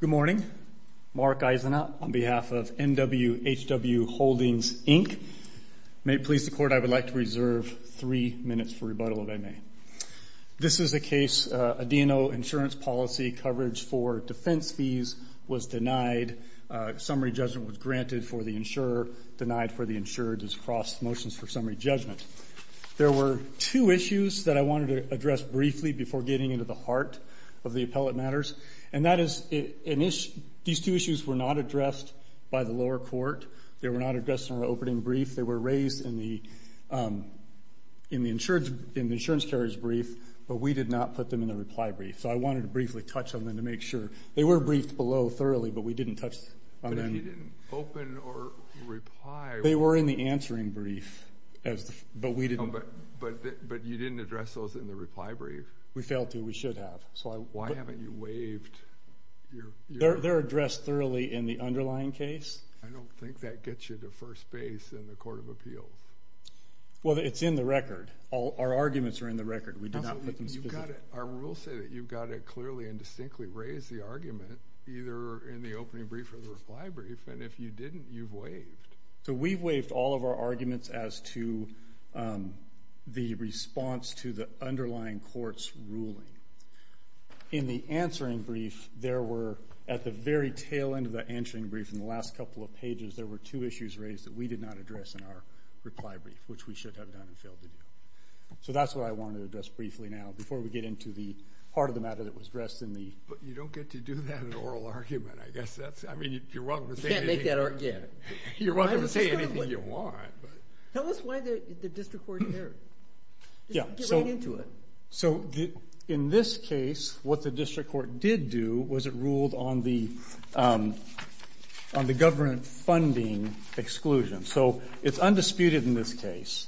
Good morning. Mark Eisenhout on behalf of NWHW Holdings, Inc. May it please the Court, I would like to reserve three minutes for rebuttal, if I may. This is a case, a DNO insurance policy coverage for defense fees was denied. Summary judgment was granted for the insurer, denied for the insured. This cross motions for summary judgment. There were two issues that I wanted to address briefly before getting into the heart of the appellate matters. And that is, these two issues were not addressed by the lower court. They were not addressed in our opening brief. They were raised in the insurance carrier's brief, but we did not put them in the reply brief. So I wanted to briefly touch on them to make open or reply. They were in the answering brief, but we didn't. But you didn't address those in the reply brief. We failed to, we should have. Why haven't you waived? They're addressed thoroughly in the underlying case. I don't think that gets you to first base in the Court of Appeals. Well, it's in the record. Our arguments are in the record. We did not put them specifically. Our rules say that you've got to clearly and distinctly raise the argument, either in the opening brief or the reply brief. And if you didn't, you've waived. So we've waived all of our arguments as to the response to the underlying court's ruling. In the answering brief, there were, at the very tail end of the answering brief in the last couple of pages, there were two issues raised that we did not address in our reply brief, which we should have done and failed to do. So that's what I wanted to address briefly now before we get into the heart of the matter that was addressed in the... But you don't get to do that in an oral argument. I guess that's, I mean, you're welcome to say anything... You can't make that argument. You're welcome to say anything you want, but... Tell us why the district court didn't hear it. Yeah, so... Get right into it. So in this case, what the district court did do was it ruled on the government funding exclusion. So it's undisputed in this case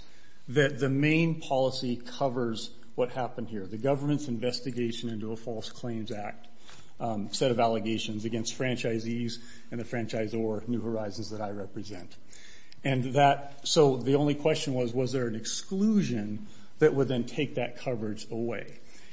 that the main policy covers what the government's investigation into a false claims act set of allegations against franchisees and the franchise or New Horizons that I represent. And that... So the only question was, was there an exclusion that would then take that coverage away?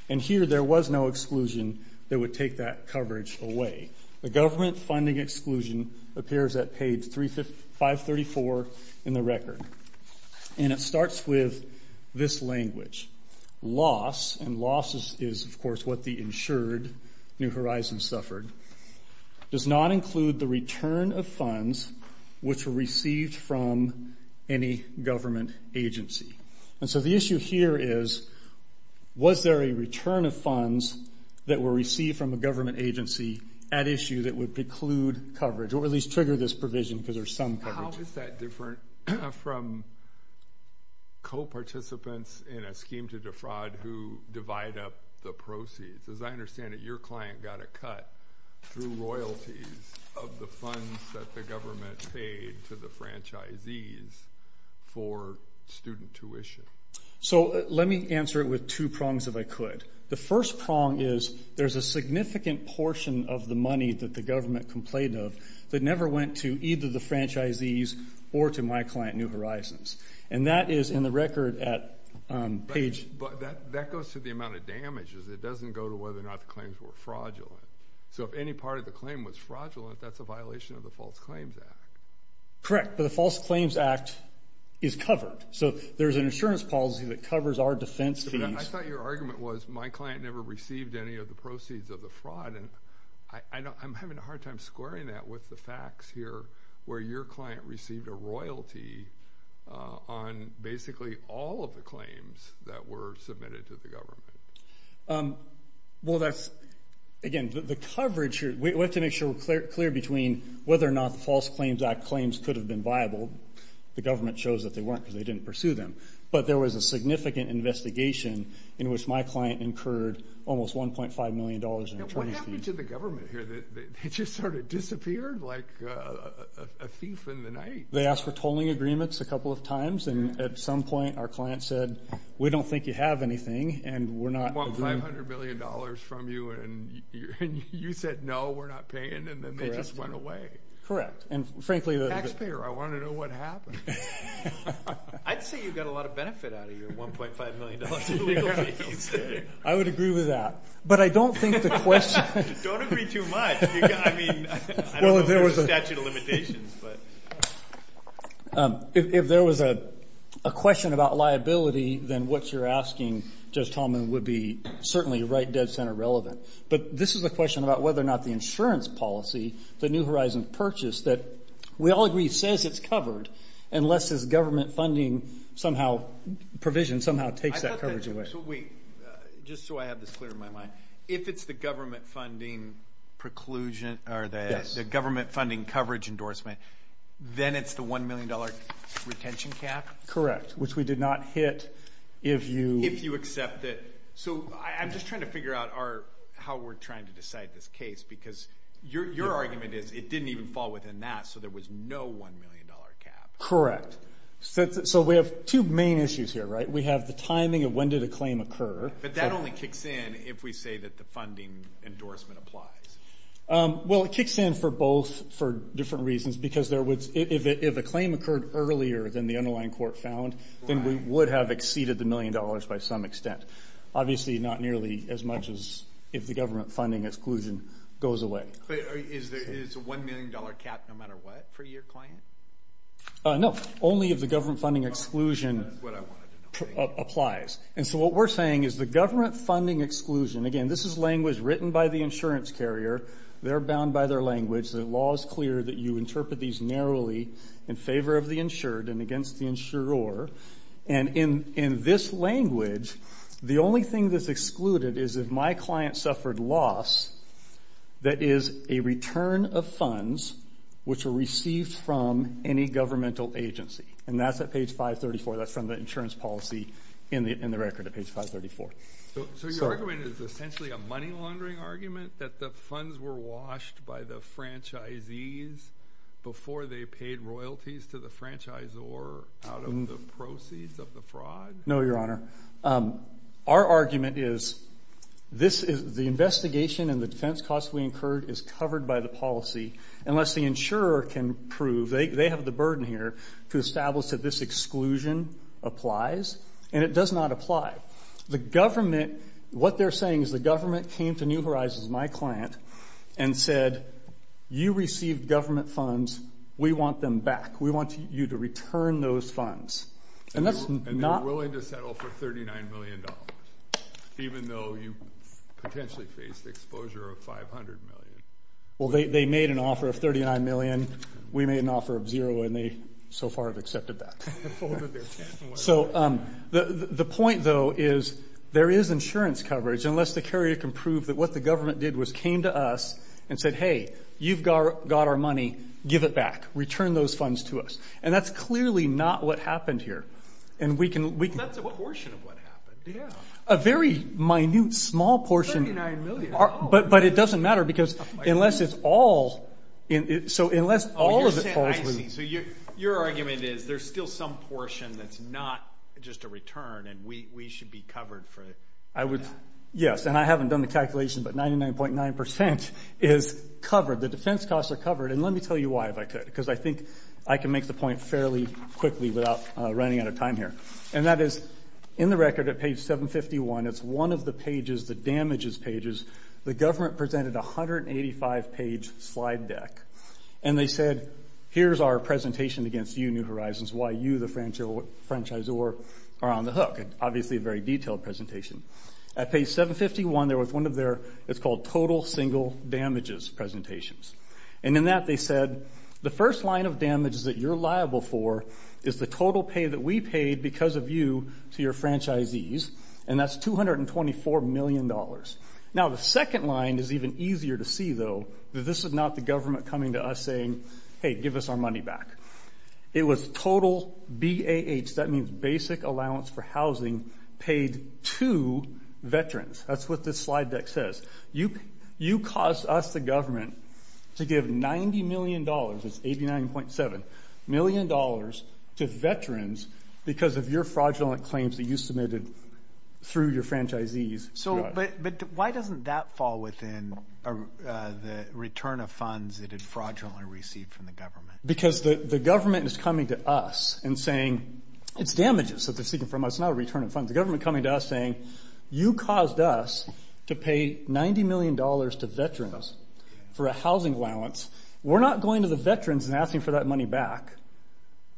And here, there was no exclusion that would take that coverage away. The government funding exclusion appears at page 534 in the process is, of course, what the insured New Horizons suffered, does not include the return of funds which were received from any government agency. And so the issue here is, was there a return of funds that were received from a government agency at issue that would preclude coverage or at least trigger this provision because there's some coverage? How is that different from co-participants in a scheme to defraud who divide up the proceeds? As I understand it, your client got a cut through royalties of the funds that the government paid to the franchisees for student tuition. So let me answer it with two prongs if I could. The first prong is there's a significant portion of the money that the government complained of that never went to either the franchisees or to my client, New Horizons. And that is in the record at page... But that goes to the amount of damages. It doesn't go to whether or not the claims were fraudulent. So if any part of the claim was fraudulent, that's a violation of the False Claims Act. Correct. But the False Claims Act is covered. So there's an insurance policy that covers our defense fees. I thought your argument was my client never received any of the proceeds of the fraud. I'm having a hard time squaring that with the facts here where your client received a royalty on basically all of the claims that were submitted to the government. Again, the coverage... We have to make sure we're clear between whether or not the False Claims Act claims could have been viable. The government shows that they weren't because they didn't pursue them. But there was a significant investigation in which my client incurred almost $1.5 million in attorney's fees. What happened to the government here? They just sort of disappeared like a thief in the night. They asked for tolling agreements a couple of times. And at some point, our client said, we don't think you have anything and we're not... They want $500 million from you and you said, no, we're not paying. And then they just went away. Correct. And frankly... Taxpayer, I want to know what happened. I'd say you got a lot of benefit out of your $1.5 million in legal fees. I would agree with that. But I don't think the question... Don't agree too much. I mean, I don't know if there's a statute of limitations, but... If there was a question about liability, then what you're asking, Judge Tallman, would be certainly right dead center relevant. But this is a question about whether or not the insurance policy, the New Horizons purchase that we all agree says it's covered, unless it's government funding somehow... Provision somehow takes that coverage away. I thought that... So wait. Just so I have this clear in my mind. If it's the government funding preclusion or the government funding coverage endorsement, then it's the $1 million retention cap? Correct. Which we did not hit if you... If you accept it. So I'm just trying to figure out how we're trying to decide this case, because your argument is it didn't even fall within that, so there was no $1 million cap. Correct. So we have two main issues here, right? We have the timing of when did a claim occur. But that only kicks in if we say that the funding endorsement applies. Well, it kicks in for both for different reasons, because if a claim occurred earlier than the underlying court found, then we would have exceeded the $1 million by some extent. Obviously, not nearly as much as if the government funding exclusion goes away. But is the $1 million cap no matter what for your client? No. Only if the government funding exclusion applies. And so what we're saying is the government funding exclusion... Again, this is language written by the insurance carrier. They're bound by their language. The law is clear that you interpret these narrowly in favor of the insured and against the insurer. And in this language, the only thing that's excluded is if my client suffered loss, that is a return of funds which were received from any governmental agency. And that's at page 534. That's from the insurance policy in the record at page 534. So your argument is essentially a money laundering argument that the funds were washed by the franchisees before they paid royalties to the franchisor out of the proceeds of the fraud? No, Your Honor. Our argument is the investigation and the defense cost we incurred is covered by the policy unless the insurer can prove, they have the burden here to establish that this exclusion applies. And it does not apply. The government, what they're saying is the government came to New Horizons, my we want you to return those funds. And that's not... And they're willing to settle for $39 million even though you potentially faced exposure of $500 million. Well, they made an offer of $39 million. We made an offer of $0 million and they so far have accepted that. So the point, though, is there is insurance coverage unless the carrier can prove that what the government did was came to us and said, hey, you've got our money. Give it back. Return those funds to us. And that's clearly not what happened here. And we can... That's a portion of what happened. Yeah. A very minute, small portion. $39 million. But it doesn't matter because unless it's all... So unless all of it falls through... I see. So your argument is there's still some portion that's not just a return and we should be covered for it. I would... Yes. And I haven't done the calculation, but 99.9% is covered. The defense costs are covered. And let me tell you why, if I could, because I think I can make the point fairly quickly without running out of time here. And that is, in the record at page 751, it's one of the pages, the damages pages, the government presented a 185-page slide deck. And they said, here's our presentation against you, New Horizons, why you, the franchisor, are on the hook. And obviously a very detailed presentation. At page 751, there was one of their... It's called total single damages presentations. And in that they said, the first line of damages that you're liable for is the total pay that we paid because of you to your franchisees. And that's $224 million. Now, the second line is even easier to see, though, that this is not the government coming to us saying, hey, give us our money back. It was total, B-A-H, that means basic allowance for housing, paid to veterans. That's what this slide deck says. You caused us, the government, to give $90 million, that's 89.7 million, to veterans because of your fraudulent claims that you submitted through your franchisees. But why doesn't that fall within the return of funds that it fraudulently received from the government? Because the government is coming to us and saying, it's damages that they're seeking from us, not a return of funds. The government coming to us saying, you caused us to pay $90 million to veterans for a housing allowance. We're not going to the veterans and asking for that money back.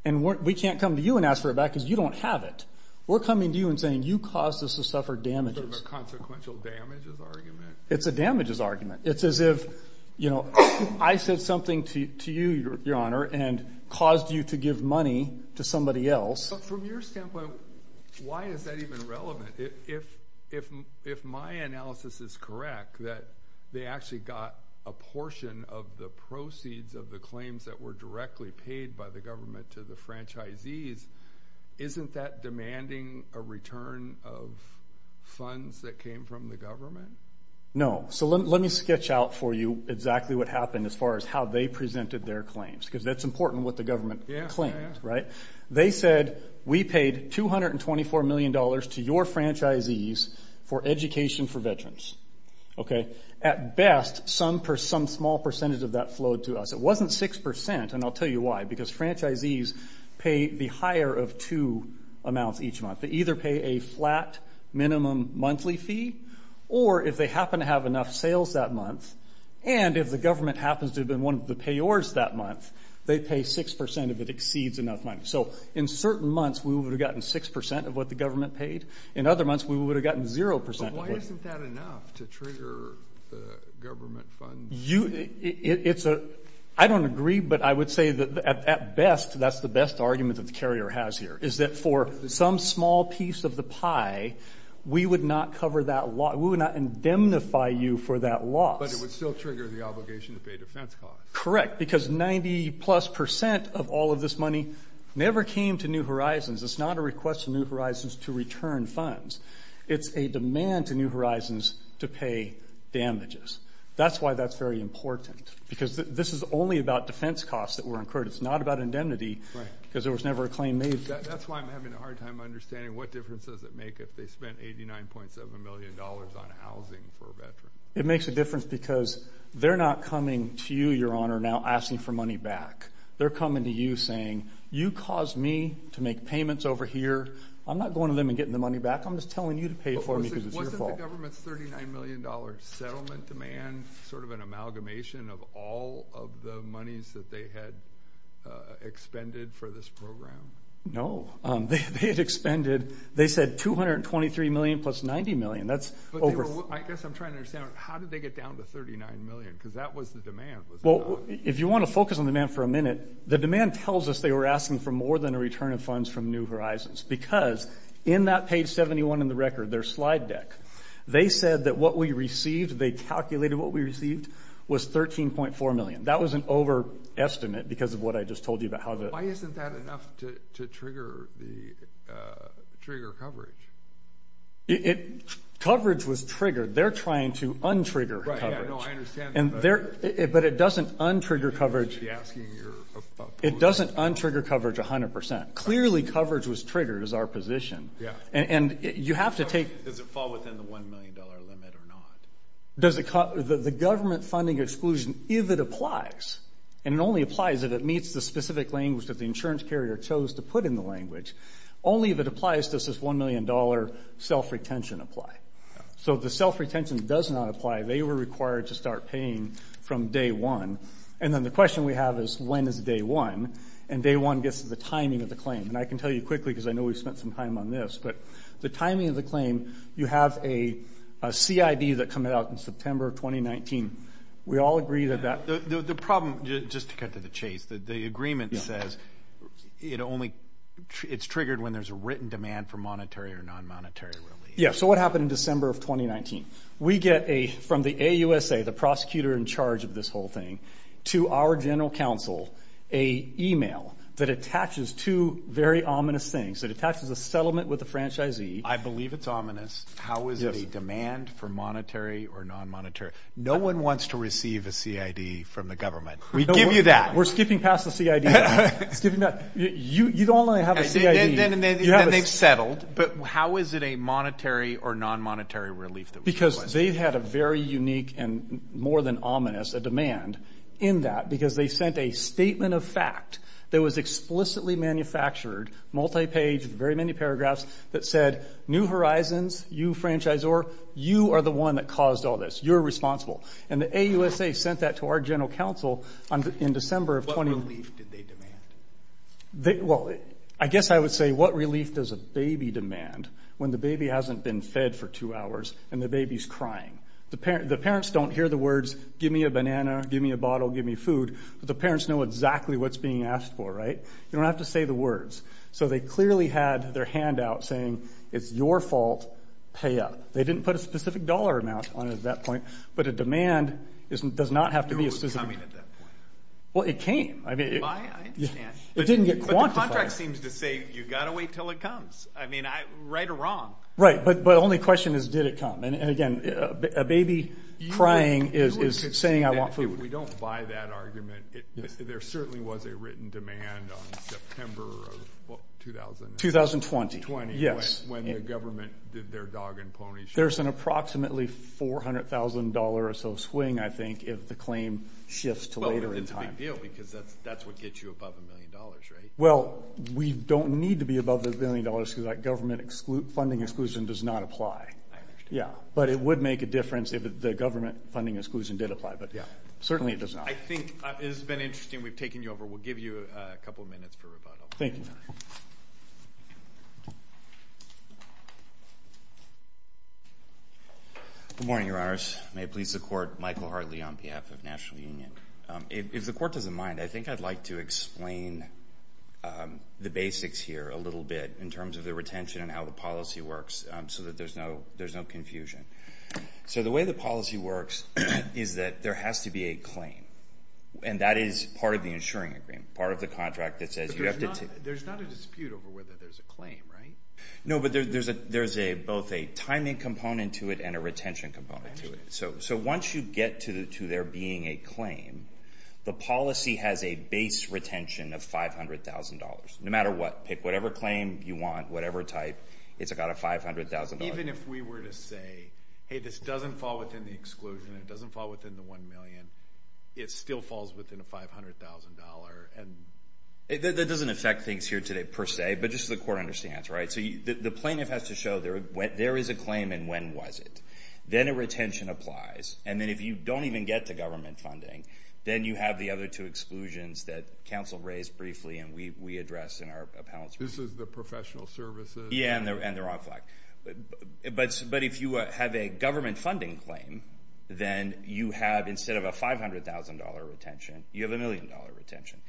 And we can't come to you and ask for it back because you don't have it. We're coming to you and saying, you caused us to suffer damages. It's a consequential damages argument. It's a damages argument. It's as if, you know, I said something to you, Your Honor, and caused you to give money to somebody else. So from your standpoint, why is that even relevant? If my analysis is correct, that they actually got a portion of the proceeds of the claims that were directly paid by the government to the franchisees, isn't that demanding a return of funds that came from the government? No. So let me sketch out for you exactly what happened as far as how they presented their claims. Because that's important, what the government claims, right? They said, we paid $224 million to your franchisees for education for veterans. Okay? At best, some small percentage of that flowed to us. It wasn't 6%, and I'll tell you why. Because franchisees pay the higher of two amounts each month. They either pay a flat minimum monthly fee, or if they happen to have enough sales that month, and if the government happens to have been one of the payors that month, they pay 6% if it exceeds enough money. So in certain months, we would have gotten 6% of what the government paid. In other months, we would have gotten 0%. But why isn't that enough to trigger the government funds? I don't agree, but I would say that at best, that's the best argument that the carrier has here, is that for some small piece of the pie, we would not cover that loss. We would not indemnify you for that loss. But it would still trigger the obligation to pay defense costs. Correct, because 90-plus percent of all of this money never came to New Horizons. It's not a request to New Horizons to return funds. It's a demand to New Horizons to pay damages. That's why that's very important, because this is only about defense costs that were incurred. It's not about indemnity, because there was never a claim made. That's why I'm having a hard time understanding what difference does it make if they spent $89.7 million on housing for veterans. It makes a difference because they're not coming to you, Your Honor, now asking for money back. They're coming to you saying, you caused me to make payments over here. I'm not going to them and getting the money back. I'm just telling you to pay for it because it's your fault. Wasn't the government's $39 million settlement demand sort of an amalgamation of all of the monies that they had expended for this program? No. They had expended, they said, $223 million plus $90 million. I guess I'm trying to understand, how did they get down to $39 million? Because that was the demand. Well, if you want to focus on the demand for a minute, the demand tells us they were asking for more than a return of funds from New Horizons, because in that page 71 in the record, their slide deck, they said that what we received, they calculated what we received, was $13.4 million. That was an overestimate because of what I just told you about how the – Why isn't that enough to trigger coverage? It – coverage was triggered. They're trying to untrigger coverage. I know. I understand. But it doesn't untrigger coverage. You should be asking your – It doesn't untrigger coverage 100%. Clearly, coverage was triggered is our position. Yeah. And you have to take – Does it fall within the $1 million limit or not? The government funding exclusion, if it applies, and it only applies if it meets the specific language that the insurance carrier chose to put in the language, only if it applies does this $1 million self-retention apply. So if the self-retention does not apply, they were required to start paying from day one. And then the question we have is, when is day one? And day one gets to the timing of the claim. And I can tell you quickly, because I know we've spent some time on this, but the timing of the claim, you have a CID that comes out in September of 2019. We all agree that that – The problem, just to cut to the chase, the agreement says it only – it's triggered when there's a written demand for monetary or non-monetary relief. Yeah. So what happened in December of 2019? We get a – from the AUSA, the prosecutor in charge of this whole thing, to our general counsel a email that attaches two very ominous things. It attaches a settlement with the franchisee. I believe it's ominous. How is it a demand for monetary or non-monetary? No one wants to receive a CID from the government. We give you that. We're skipping past the CID. You don't only have a CID. Then they've settled, but how is it a monetary or non-monetary relief? Because they've had a very unique and more than ominous a demand in that because they sent a statement of fact that was explicitly manufactured, multi-paged, very many paragraphs, that said, New Horizons, you franchisor, you are the one that caused all this. You're responsible. And the AUSA sent that to our general counsel in December of 2019. What relief did they demand? Well, I guess I would say what relief does a baby demand when the baby hasn't been fed for two hours and the baby's crying? The parents don't hear the words, give me a banana, give me a bottle, give me food, but the parents know exactly what's being asked for, right? You don't have to say the words. So they clearly had their handout saying it's your fault, pay up. They didn't put a specific dollar amount on it at that point, but a demand does not have to be a specific amount. I knew it was coming at that point. Well, it came. I understand. It didn't get quantified. But the contract seems to say you've got to wait until it comes. I mean, right or wrong. Right, but the only question is did it come? And, again, a baby crying is saying I want food. We don't buy that argument. There certainly was a written demand on September of what, 2000? 2020. When the government did their dog and pony show. There's an approximately $400,000 or so swing, I think, if the claim shifts to later in time. Well, it's a big deal because that's what gets you above a million dollars, right? Well, we don't need to be above a million dollars because that government funding exclusion does not apply. I understand. Yeah, but it would make a difference if the government funding exclusion did apply, but certainly it does not. I think it's been interesting. We've taken you over. We'll give you a couple of minutes for rebuttal. Thank you, Your Honor. Good morning, Your Honors. May it please the Court, Michael Hartley on behalf of National Union. If the Court doesn't mind, I think I'd like to explain the basics here a little bit in terms of the retention and how the policy works so that there's no confusion. So the way the policy works is that there has to be a claim, and that is part of the insuring agreement, part of the contract that says you have to take. There's not a dispute over whether there's a claim, right? No, but there's both a timing component to it and a retention component to it. So once you get to there being a claim, the policy has a base retention of $500,000. No matter what, pick whatever claim you want, whatever type, it's got a $500,000. Even if we were to say, hey, this doesn't fall within the exclusion, it doesn't fall within the $1 million, it still falls within a $500,000. That doesn't affect things here today per se, but just so the Court understands, right? So the plaintiff has to show there is a claim and when was it. Then a retention applies. And then if you don't even get to government funding, then you have the other two exclusions that counsel raised briefly and we addressed in our appellate's brief. This is the professional services? Yeah, and the wrong flag. But if you have a government funding claim, then you have, instead of a $500,000 retention, you have a $1 million retention.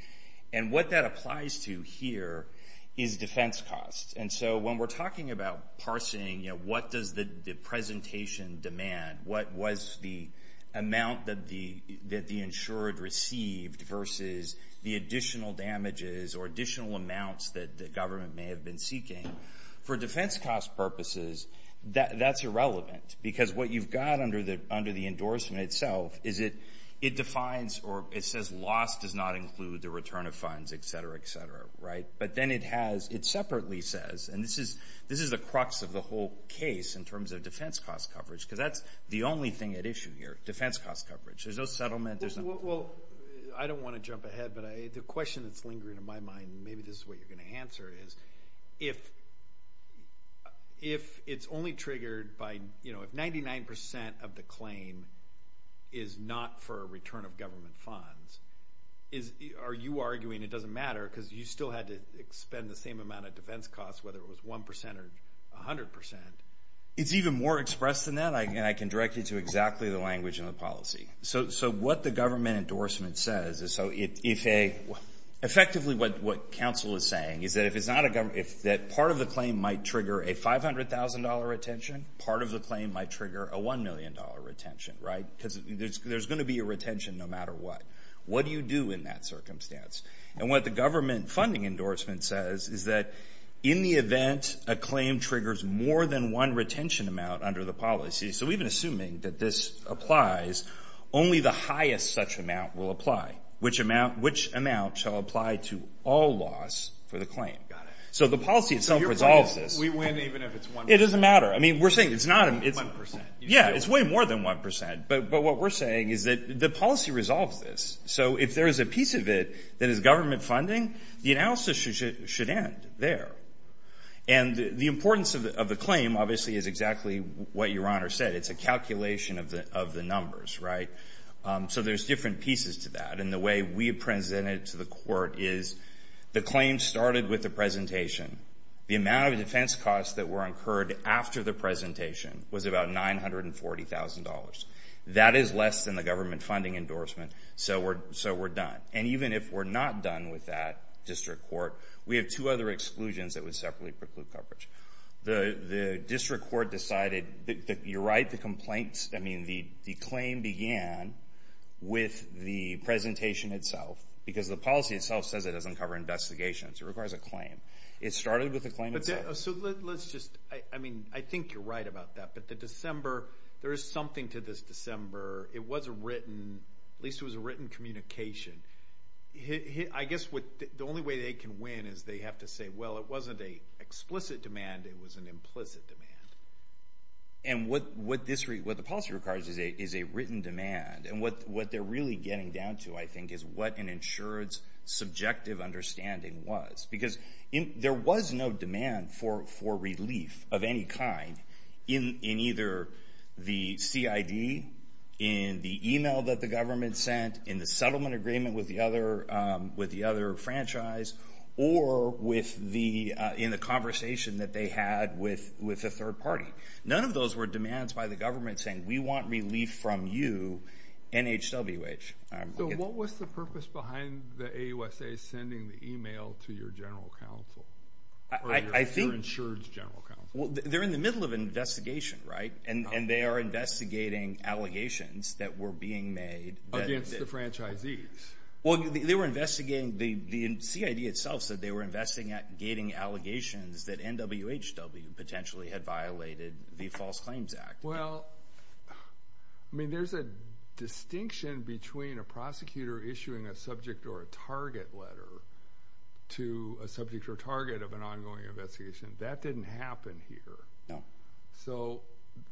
And what that applies to here is defense costs. And so when we're talking about parsing, what does the presentation demand, what was the amount that the insured received versus the additional damages or additional amounts that the government may have been seeking? For defense cost purposes, that's irrelevant. Because what you've got under the endorsement itself is it defines or it says loss does not include the return of funds, et cetera, et cetera, right? But then it has, it separately says, and this is the crux of the whole case in terms of defense cost coverage, because that's the only thing at issue here, defense cost coverage. There's no settlement. Well, I don't want to jump ahead, but the question that's lingering in my mind, and maybe this is what you're going to answer, is if it's only triggered by, you know, if 99% of the claim is not for a return of government funds, are you arguing it doesn't matter because you still had to expend the same amount of defense costs, whether it was 1% or 100%? It's even more expressed than that, and I can direct you to exactly the language and the policy. So what the government endorsement says is so if a, effectively what counsel is saying is that if it's not a government, if that part of the claim might trigger a $500,000 retention, part of the claim might trigger a $1 million retention, right? Because there's going to be a retention no matter what. What do you do in that circumstance? And what the government funding endorsement says is that in the event a claim triggers more than one retention amount under the policy, so even assuming that this applies, only the highest such amount will apply. Which amount shall apply to all laws for the claim? Got it. So the policy itself resolves this. We win even if it's 1%. It doesn't matter. I mean, we're saying it's not. 1%. Yeah, it's way more than 1%. But what we're saying is that the policy resolves this. So if there is a piece of it that is government funding, the analysis should end there. And the importance of the claim, obviously, is exactly what Your Honor said. It's a calculation of the numbers, right? So there's different pieces to that. And the way we present it to the court is the claim started with the presentation. The amount of defense costs that were incurred after the presentation was about $940,000. That is less than the government funding endorsement, so we're done. And even if we're not done with that, District Court, we have two other exclusions that would separately preclude coverage. The District Court decided that you're right, the complaints, I mean, the claim began with the presentation itself, because the policy itself says it doesn't cover investigations. It requires a claim. It started with the claim itself. So let's just, I mean, I think you're right about that. But the December, there is something to this December. It was a written, at least it was a written communication. I guess the only way they can win is they have to say, well, it wasn't an explicit demand, it was an implicit demand. And what the policy requires is a written demand. And what they're really getting down to, I think, is what an insurance subjective understanding was. Because there was no demand for relief of any kind in either the CID, in the email that the government sent, in the settlement agreement with the other franchise, or in the conversation that they had with a third party. None of those were demands by the government saying, we want relief from you, NHWH. So what was the purpose behind the AUSA sending the email to your general counsel? Or your insurance general counsel? They're in the middle of an investigation, right? And they are investigating allegations that were being made. Against the franchisees. Well, they were investigating, the CID itself said they were investigating allegations that NWHW potentially had violated the False Claims Act. Well, there's a distinction between a prosecutor issuing a subject or a target letter to a subject or target of an ongoing investigation. That didn't happen here. So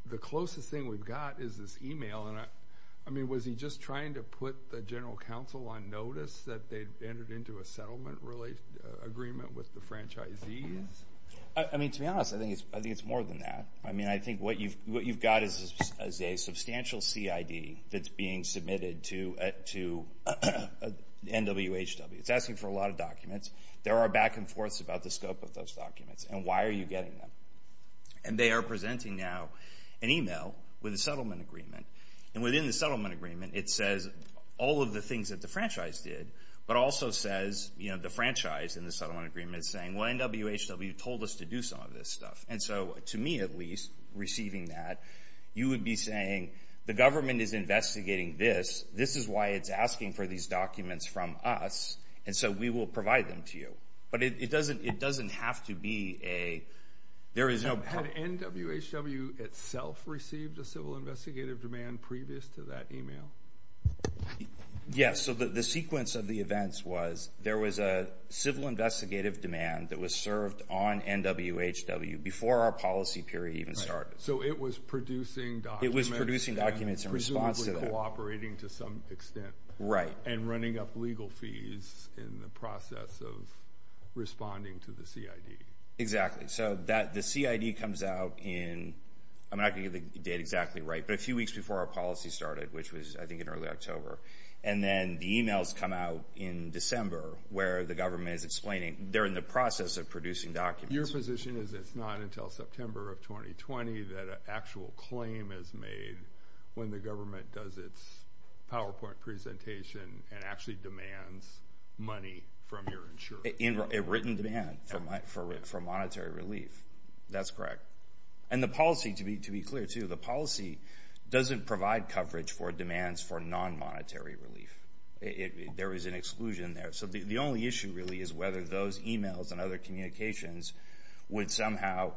the closest thing we've got is this email. Was he just trying to put the general counsel on notice that they'd entered into a settlement agreement with the franchisees? To be honest, I think it's more than that. I mean, I think what you've got is a substantial CID that's being submitted to NWHW. It's asking for a lot of documents. There are back and forths about the scope of those documents. And why are you getting them? And they are presenting now an email with a settlement agreement. And within the settlement agreement, it says all of the things that the franchise did, but also says the franchise in the settlement agreement is saying, well, NWHW told us to do some of this stuff. And so, to me at least, receiving that, you would be saying the government is investigating this. This is why it's asking for these documents from us, and so we will provide them to you. But it doesn't have to be a – there is no – Had NWHW itself received a civil investigative demand previous to that email? Yes. So the sequence of the events was there was a civil investigative demand that was served on NWHW before our policy period even started. So it was producing documents and presumably cooperating to some extent. And running up legal fees in the process of responding to the CID. Exactly. So the CID comes out in – I'm not going to get the date exactly right, but a few weeks before our policy started, which was I think in early October. And then the emails come out in December where the government is explaining. They're in the process of producing documents. Your position is it's not until September of 2020 that an actual claim is made when the government does its PowerPoint presentation and actually demands money from your insurer. A written demand for monetary relief. That's correct. And the policy, to be clear too, the policy doesn't provide coverage for demands for non-monetary relief. There is an exclusion there. So the only issue really is whether those emails and other communications would somehow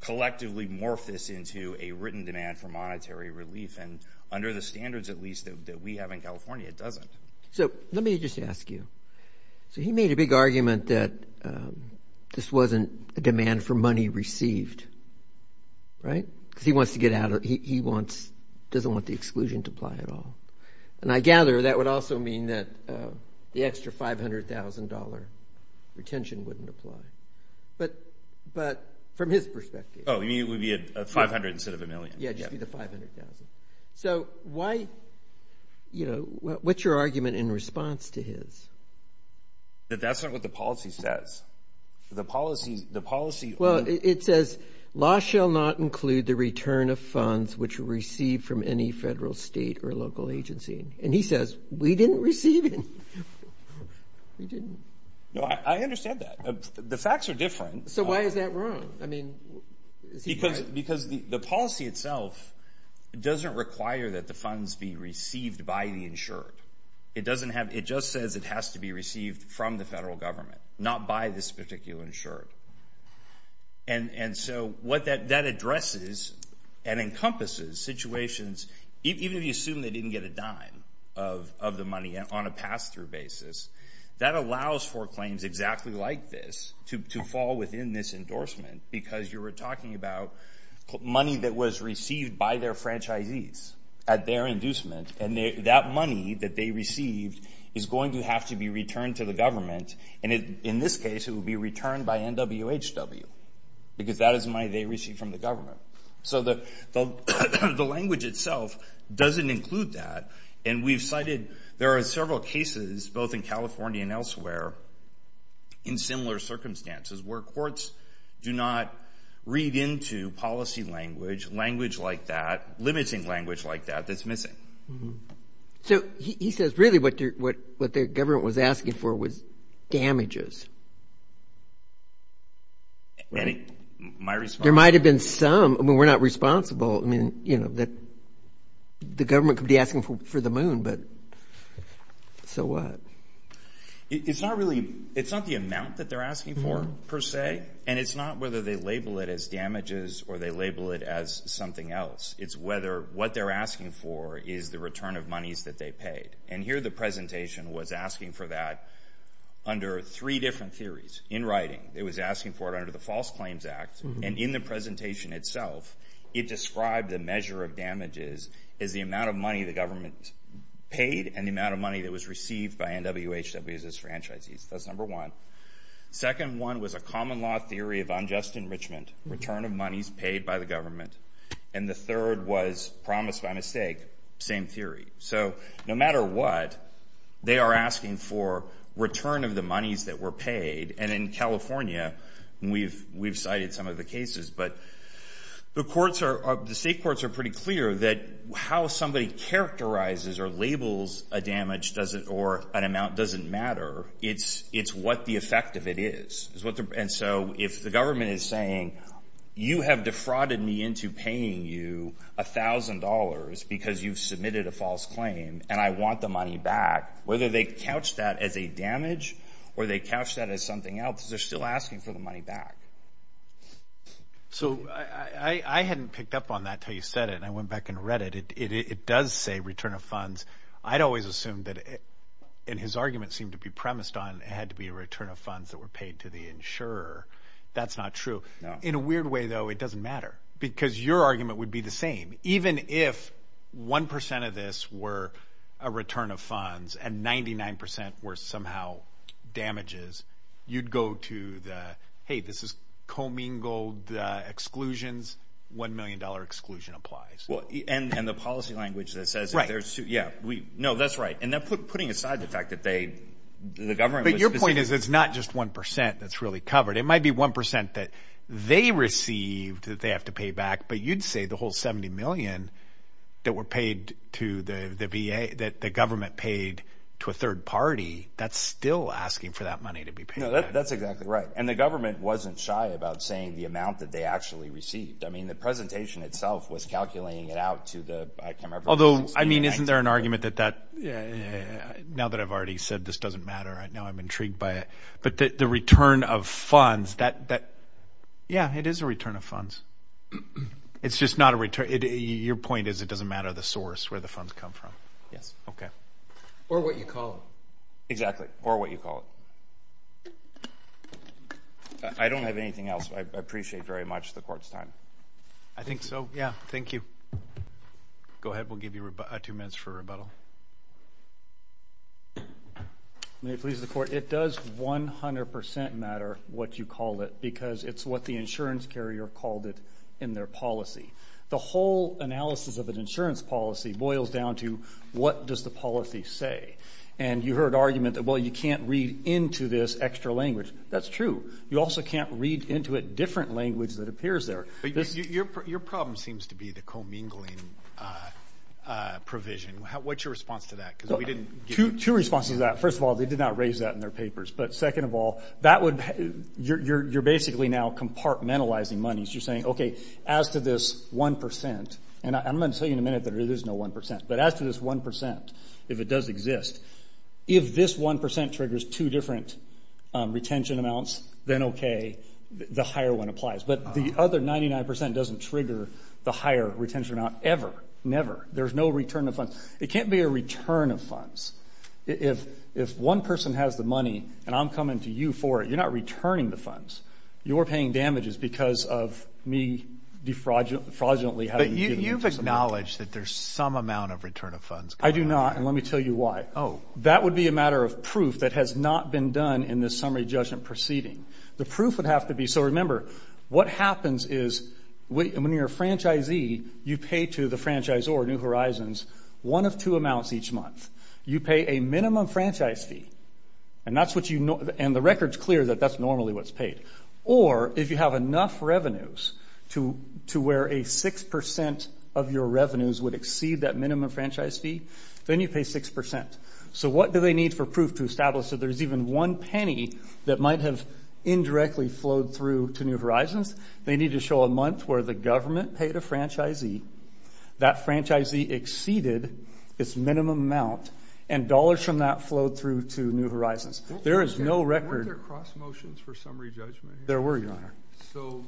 collectively morph this into a written demand for monetary relief. And under the standards at least that we have in California, it doesn't. So let me just ask you. So he made a big argument that this wasn't a demand for money received, right? Because he wants to get out – he wants – doesn't want the exclusion to apply at all. And I gather that would also mean that the extra $500,000 retention wouldn't apply. But from his perspective. Oh, you mean it would be a $500,000 instead of a million? Yeah, it would just be the $500,000. So why – what's your argument in response to his? That that's not what the policy says. The policy – Well, it says, Law shall not include the return of funds which were received from any federal, state, or local agency. And he says, we didn't receive any. We didn't. No, I understand that. The facts are different. So why is that wrong? I mean, is he right? Because the policy itself doesn't require that the funds be received by the insured. It doesn't have – it just says it has to be received from the federal government, not by this particular insured. And so what that addresses and encompasses situations – even if you assume they didn't get a dime of the money on a pass-through basis, that allows for claims exactly like this to fall within this endorsement. Because you were talking about money that was received by their franchisees at their inducement. And that money that they received is going to have to be returned to the government. And in this case, it will be returned by NWHW because that is money they received from the government. So the language itself doesn't include that. And we've cited – there are several cases, both in California and elsewhere, in similar circumstances where courts do not read into policy language, language like that, limiting language like that, that's missing. So he says really what the government was asking for was damages. There might have been some. I mean, we're not responsible. I mean, you know, the government could be asking for the moon, but so what? It's not really – it's not the amount that they're asking for per se, and it's not whether they label it as damages or they label it as something else. It's whether what they're asking for is the return of monies that they paid. And here the presentation was asking for that under three different theories. In writing, it was asking for it under the False Claims Act. And in the presentation itself, it described the measure of damages as the amount of money the government paid and the amount of money that was received by NWHW's franchisees. That's number one. Second one was a common law theory of unjust enrichment, return of monies paid by the government. And the third was, promised by mistake, same theory. So no matter what, they are asking for return of the monies that were paid. And in California, we've cited some of the cases, but the courts are – the state courts are pretty clear that how somebody characterizes or labels a damage or an amount doesn't matter. It's what the effect of it is. And so if the government is saying, you have defrauded me into paying you $1,000 because you've submitted a false claim and I want the money back, whether they couch that as a damage or they couch that as something else, they're still asking for the money back. So I hadn't picked up on that until you said it, and I went back and read it. It does say return of funds. I'd always assumed that – and his argument seemed to be premised on it had to be a return of funds that were paid to the insurer. That's not true. In a weird way, though, it doesn't matter because your argument would be the same. Even if 1% of this were a return of funds and 99% were somehow damages, you'd go to the, hey, this is commingled exclusions. $1 million exclusion applies. And the policy language that says if there's – yeah. No, that's right. And they're putting aside the fact that they – the government was – But your point is it's not just 1% that's really covered. It might be 1% that they received that they have to pay back, but you'd say the whole $70 million that were paid to the VA, that the government paid to a third party, that's still asking for that money to be paid back. No, that's exactly right. And the government wasn't shy about saying the amount that they actually received. I mean the presentation itself was calculating it out to the – I can't remember. Although, I mean, isn't there an argument that that – now that I've already said this doesn't matter, now I'm intrigued by it. But the return of funds, that – yeah, it is a return of funds. It's just not a – your point is it doesn't matter the source where the funds come from. Yes. Okay. Or what you call it. Exactly. Or what you call it. I don't have anything else. I appreciate very much the court's time. I think so. Yeah. Thank you. Go ahead. We'll give you two minutes for rebuttal. May it please the Court. It does 100% matter what you call it because it's what the insurance carrier called it in their policy. The whole analysis of an insurance policy boils down to what does the policy say. And you heard argument that, well, you can't read into this extra language. That's true. You also can't read into it different language that appears there. Your problem seems to be the commingling provision. What's your response to that? Two responses to that. First of all, they did not raise that in their papers. But second of all, that would – you're basically now compartmentalizing monies. You're saying, okay, as to this 1% – and I'm going to tell you in a minute that it is no 1% – but as to this 1%, if it does exist, if this 1% triggers two different retention amounts, then okay. The higher one applies. But the other 99% doesn't trigger the higher retention amount ever. There's no return of funds. It can't be a return of funds. If one person has the money and I'm coming to you for it, you're not returning the funds. You're paying damages because of me defraudulently having given you some money. But you've acknowledged that there's some amount of return of funds. I do not. And let me tell you why. Oh. That would be a matter of proof that has not been done in this summary judgment proceeding. The proof would have to be – so remember, what happens is when you're a franchisee, you pay to the franchisor, New Horizons, one of two amounts each month. You pay a minimum franchise fee. And that's what you – and the record's clear that that's normally what's paid. Or if you have enough revenues to where a 6% of your revenues would exceed that minimum franchise fee, then you pay 6%. So what do they need for proof to establish that there's even one penny that might have indirectly flowed through to New Horizons? They need to show a month where the government paid a franchisee, that franchisee exceeded its minimum amount, and dollars from that flowed through to New Horizons. There is no record. Weren't there cross motions for summary judgment? There were, Your Honor. So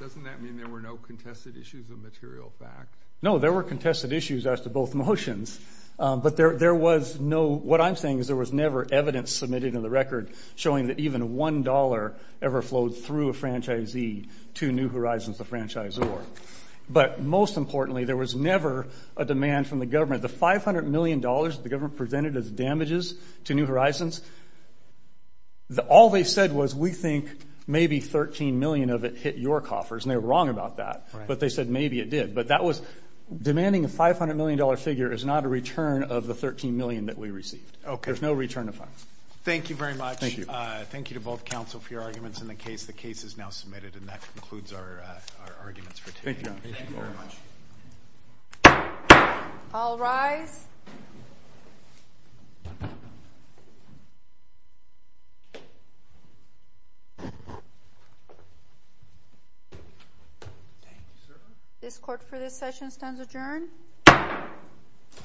doesn't that mean there were no contested issues of material fact? No, there were contested issues as to both motions. But there was no – what I'm saying is there was never evidence submitted in the record showing that even $1 ever flowed through a franchisee to New Horizons, the franchisor. But most importantly, there was never a demand from the government. The $500 million that the government presented as damages to New Horizons, all they said was we think maybe $13 million of it hit your coffers, and they were wrong about that. But they said maybe it did. But that was – demanding a $500 million figure is not a return of the $13 million that we received. Okay. There's no return of funds. Thank you very much. Thank you. Thank you to both counsel for your arguments in the case. The case is now submitted, and that concludes our arguments for today. Thank you, Your Honor. All rise. Thank you, sir. This court for this session stands adjourned.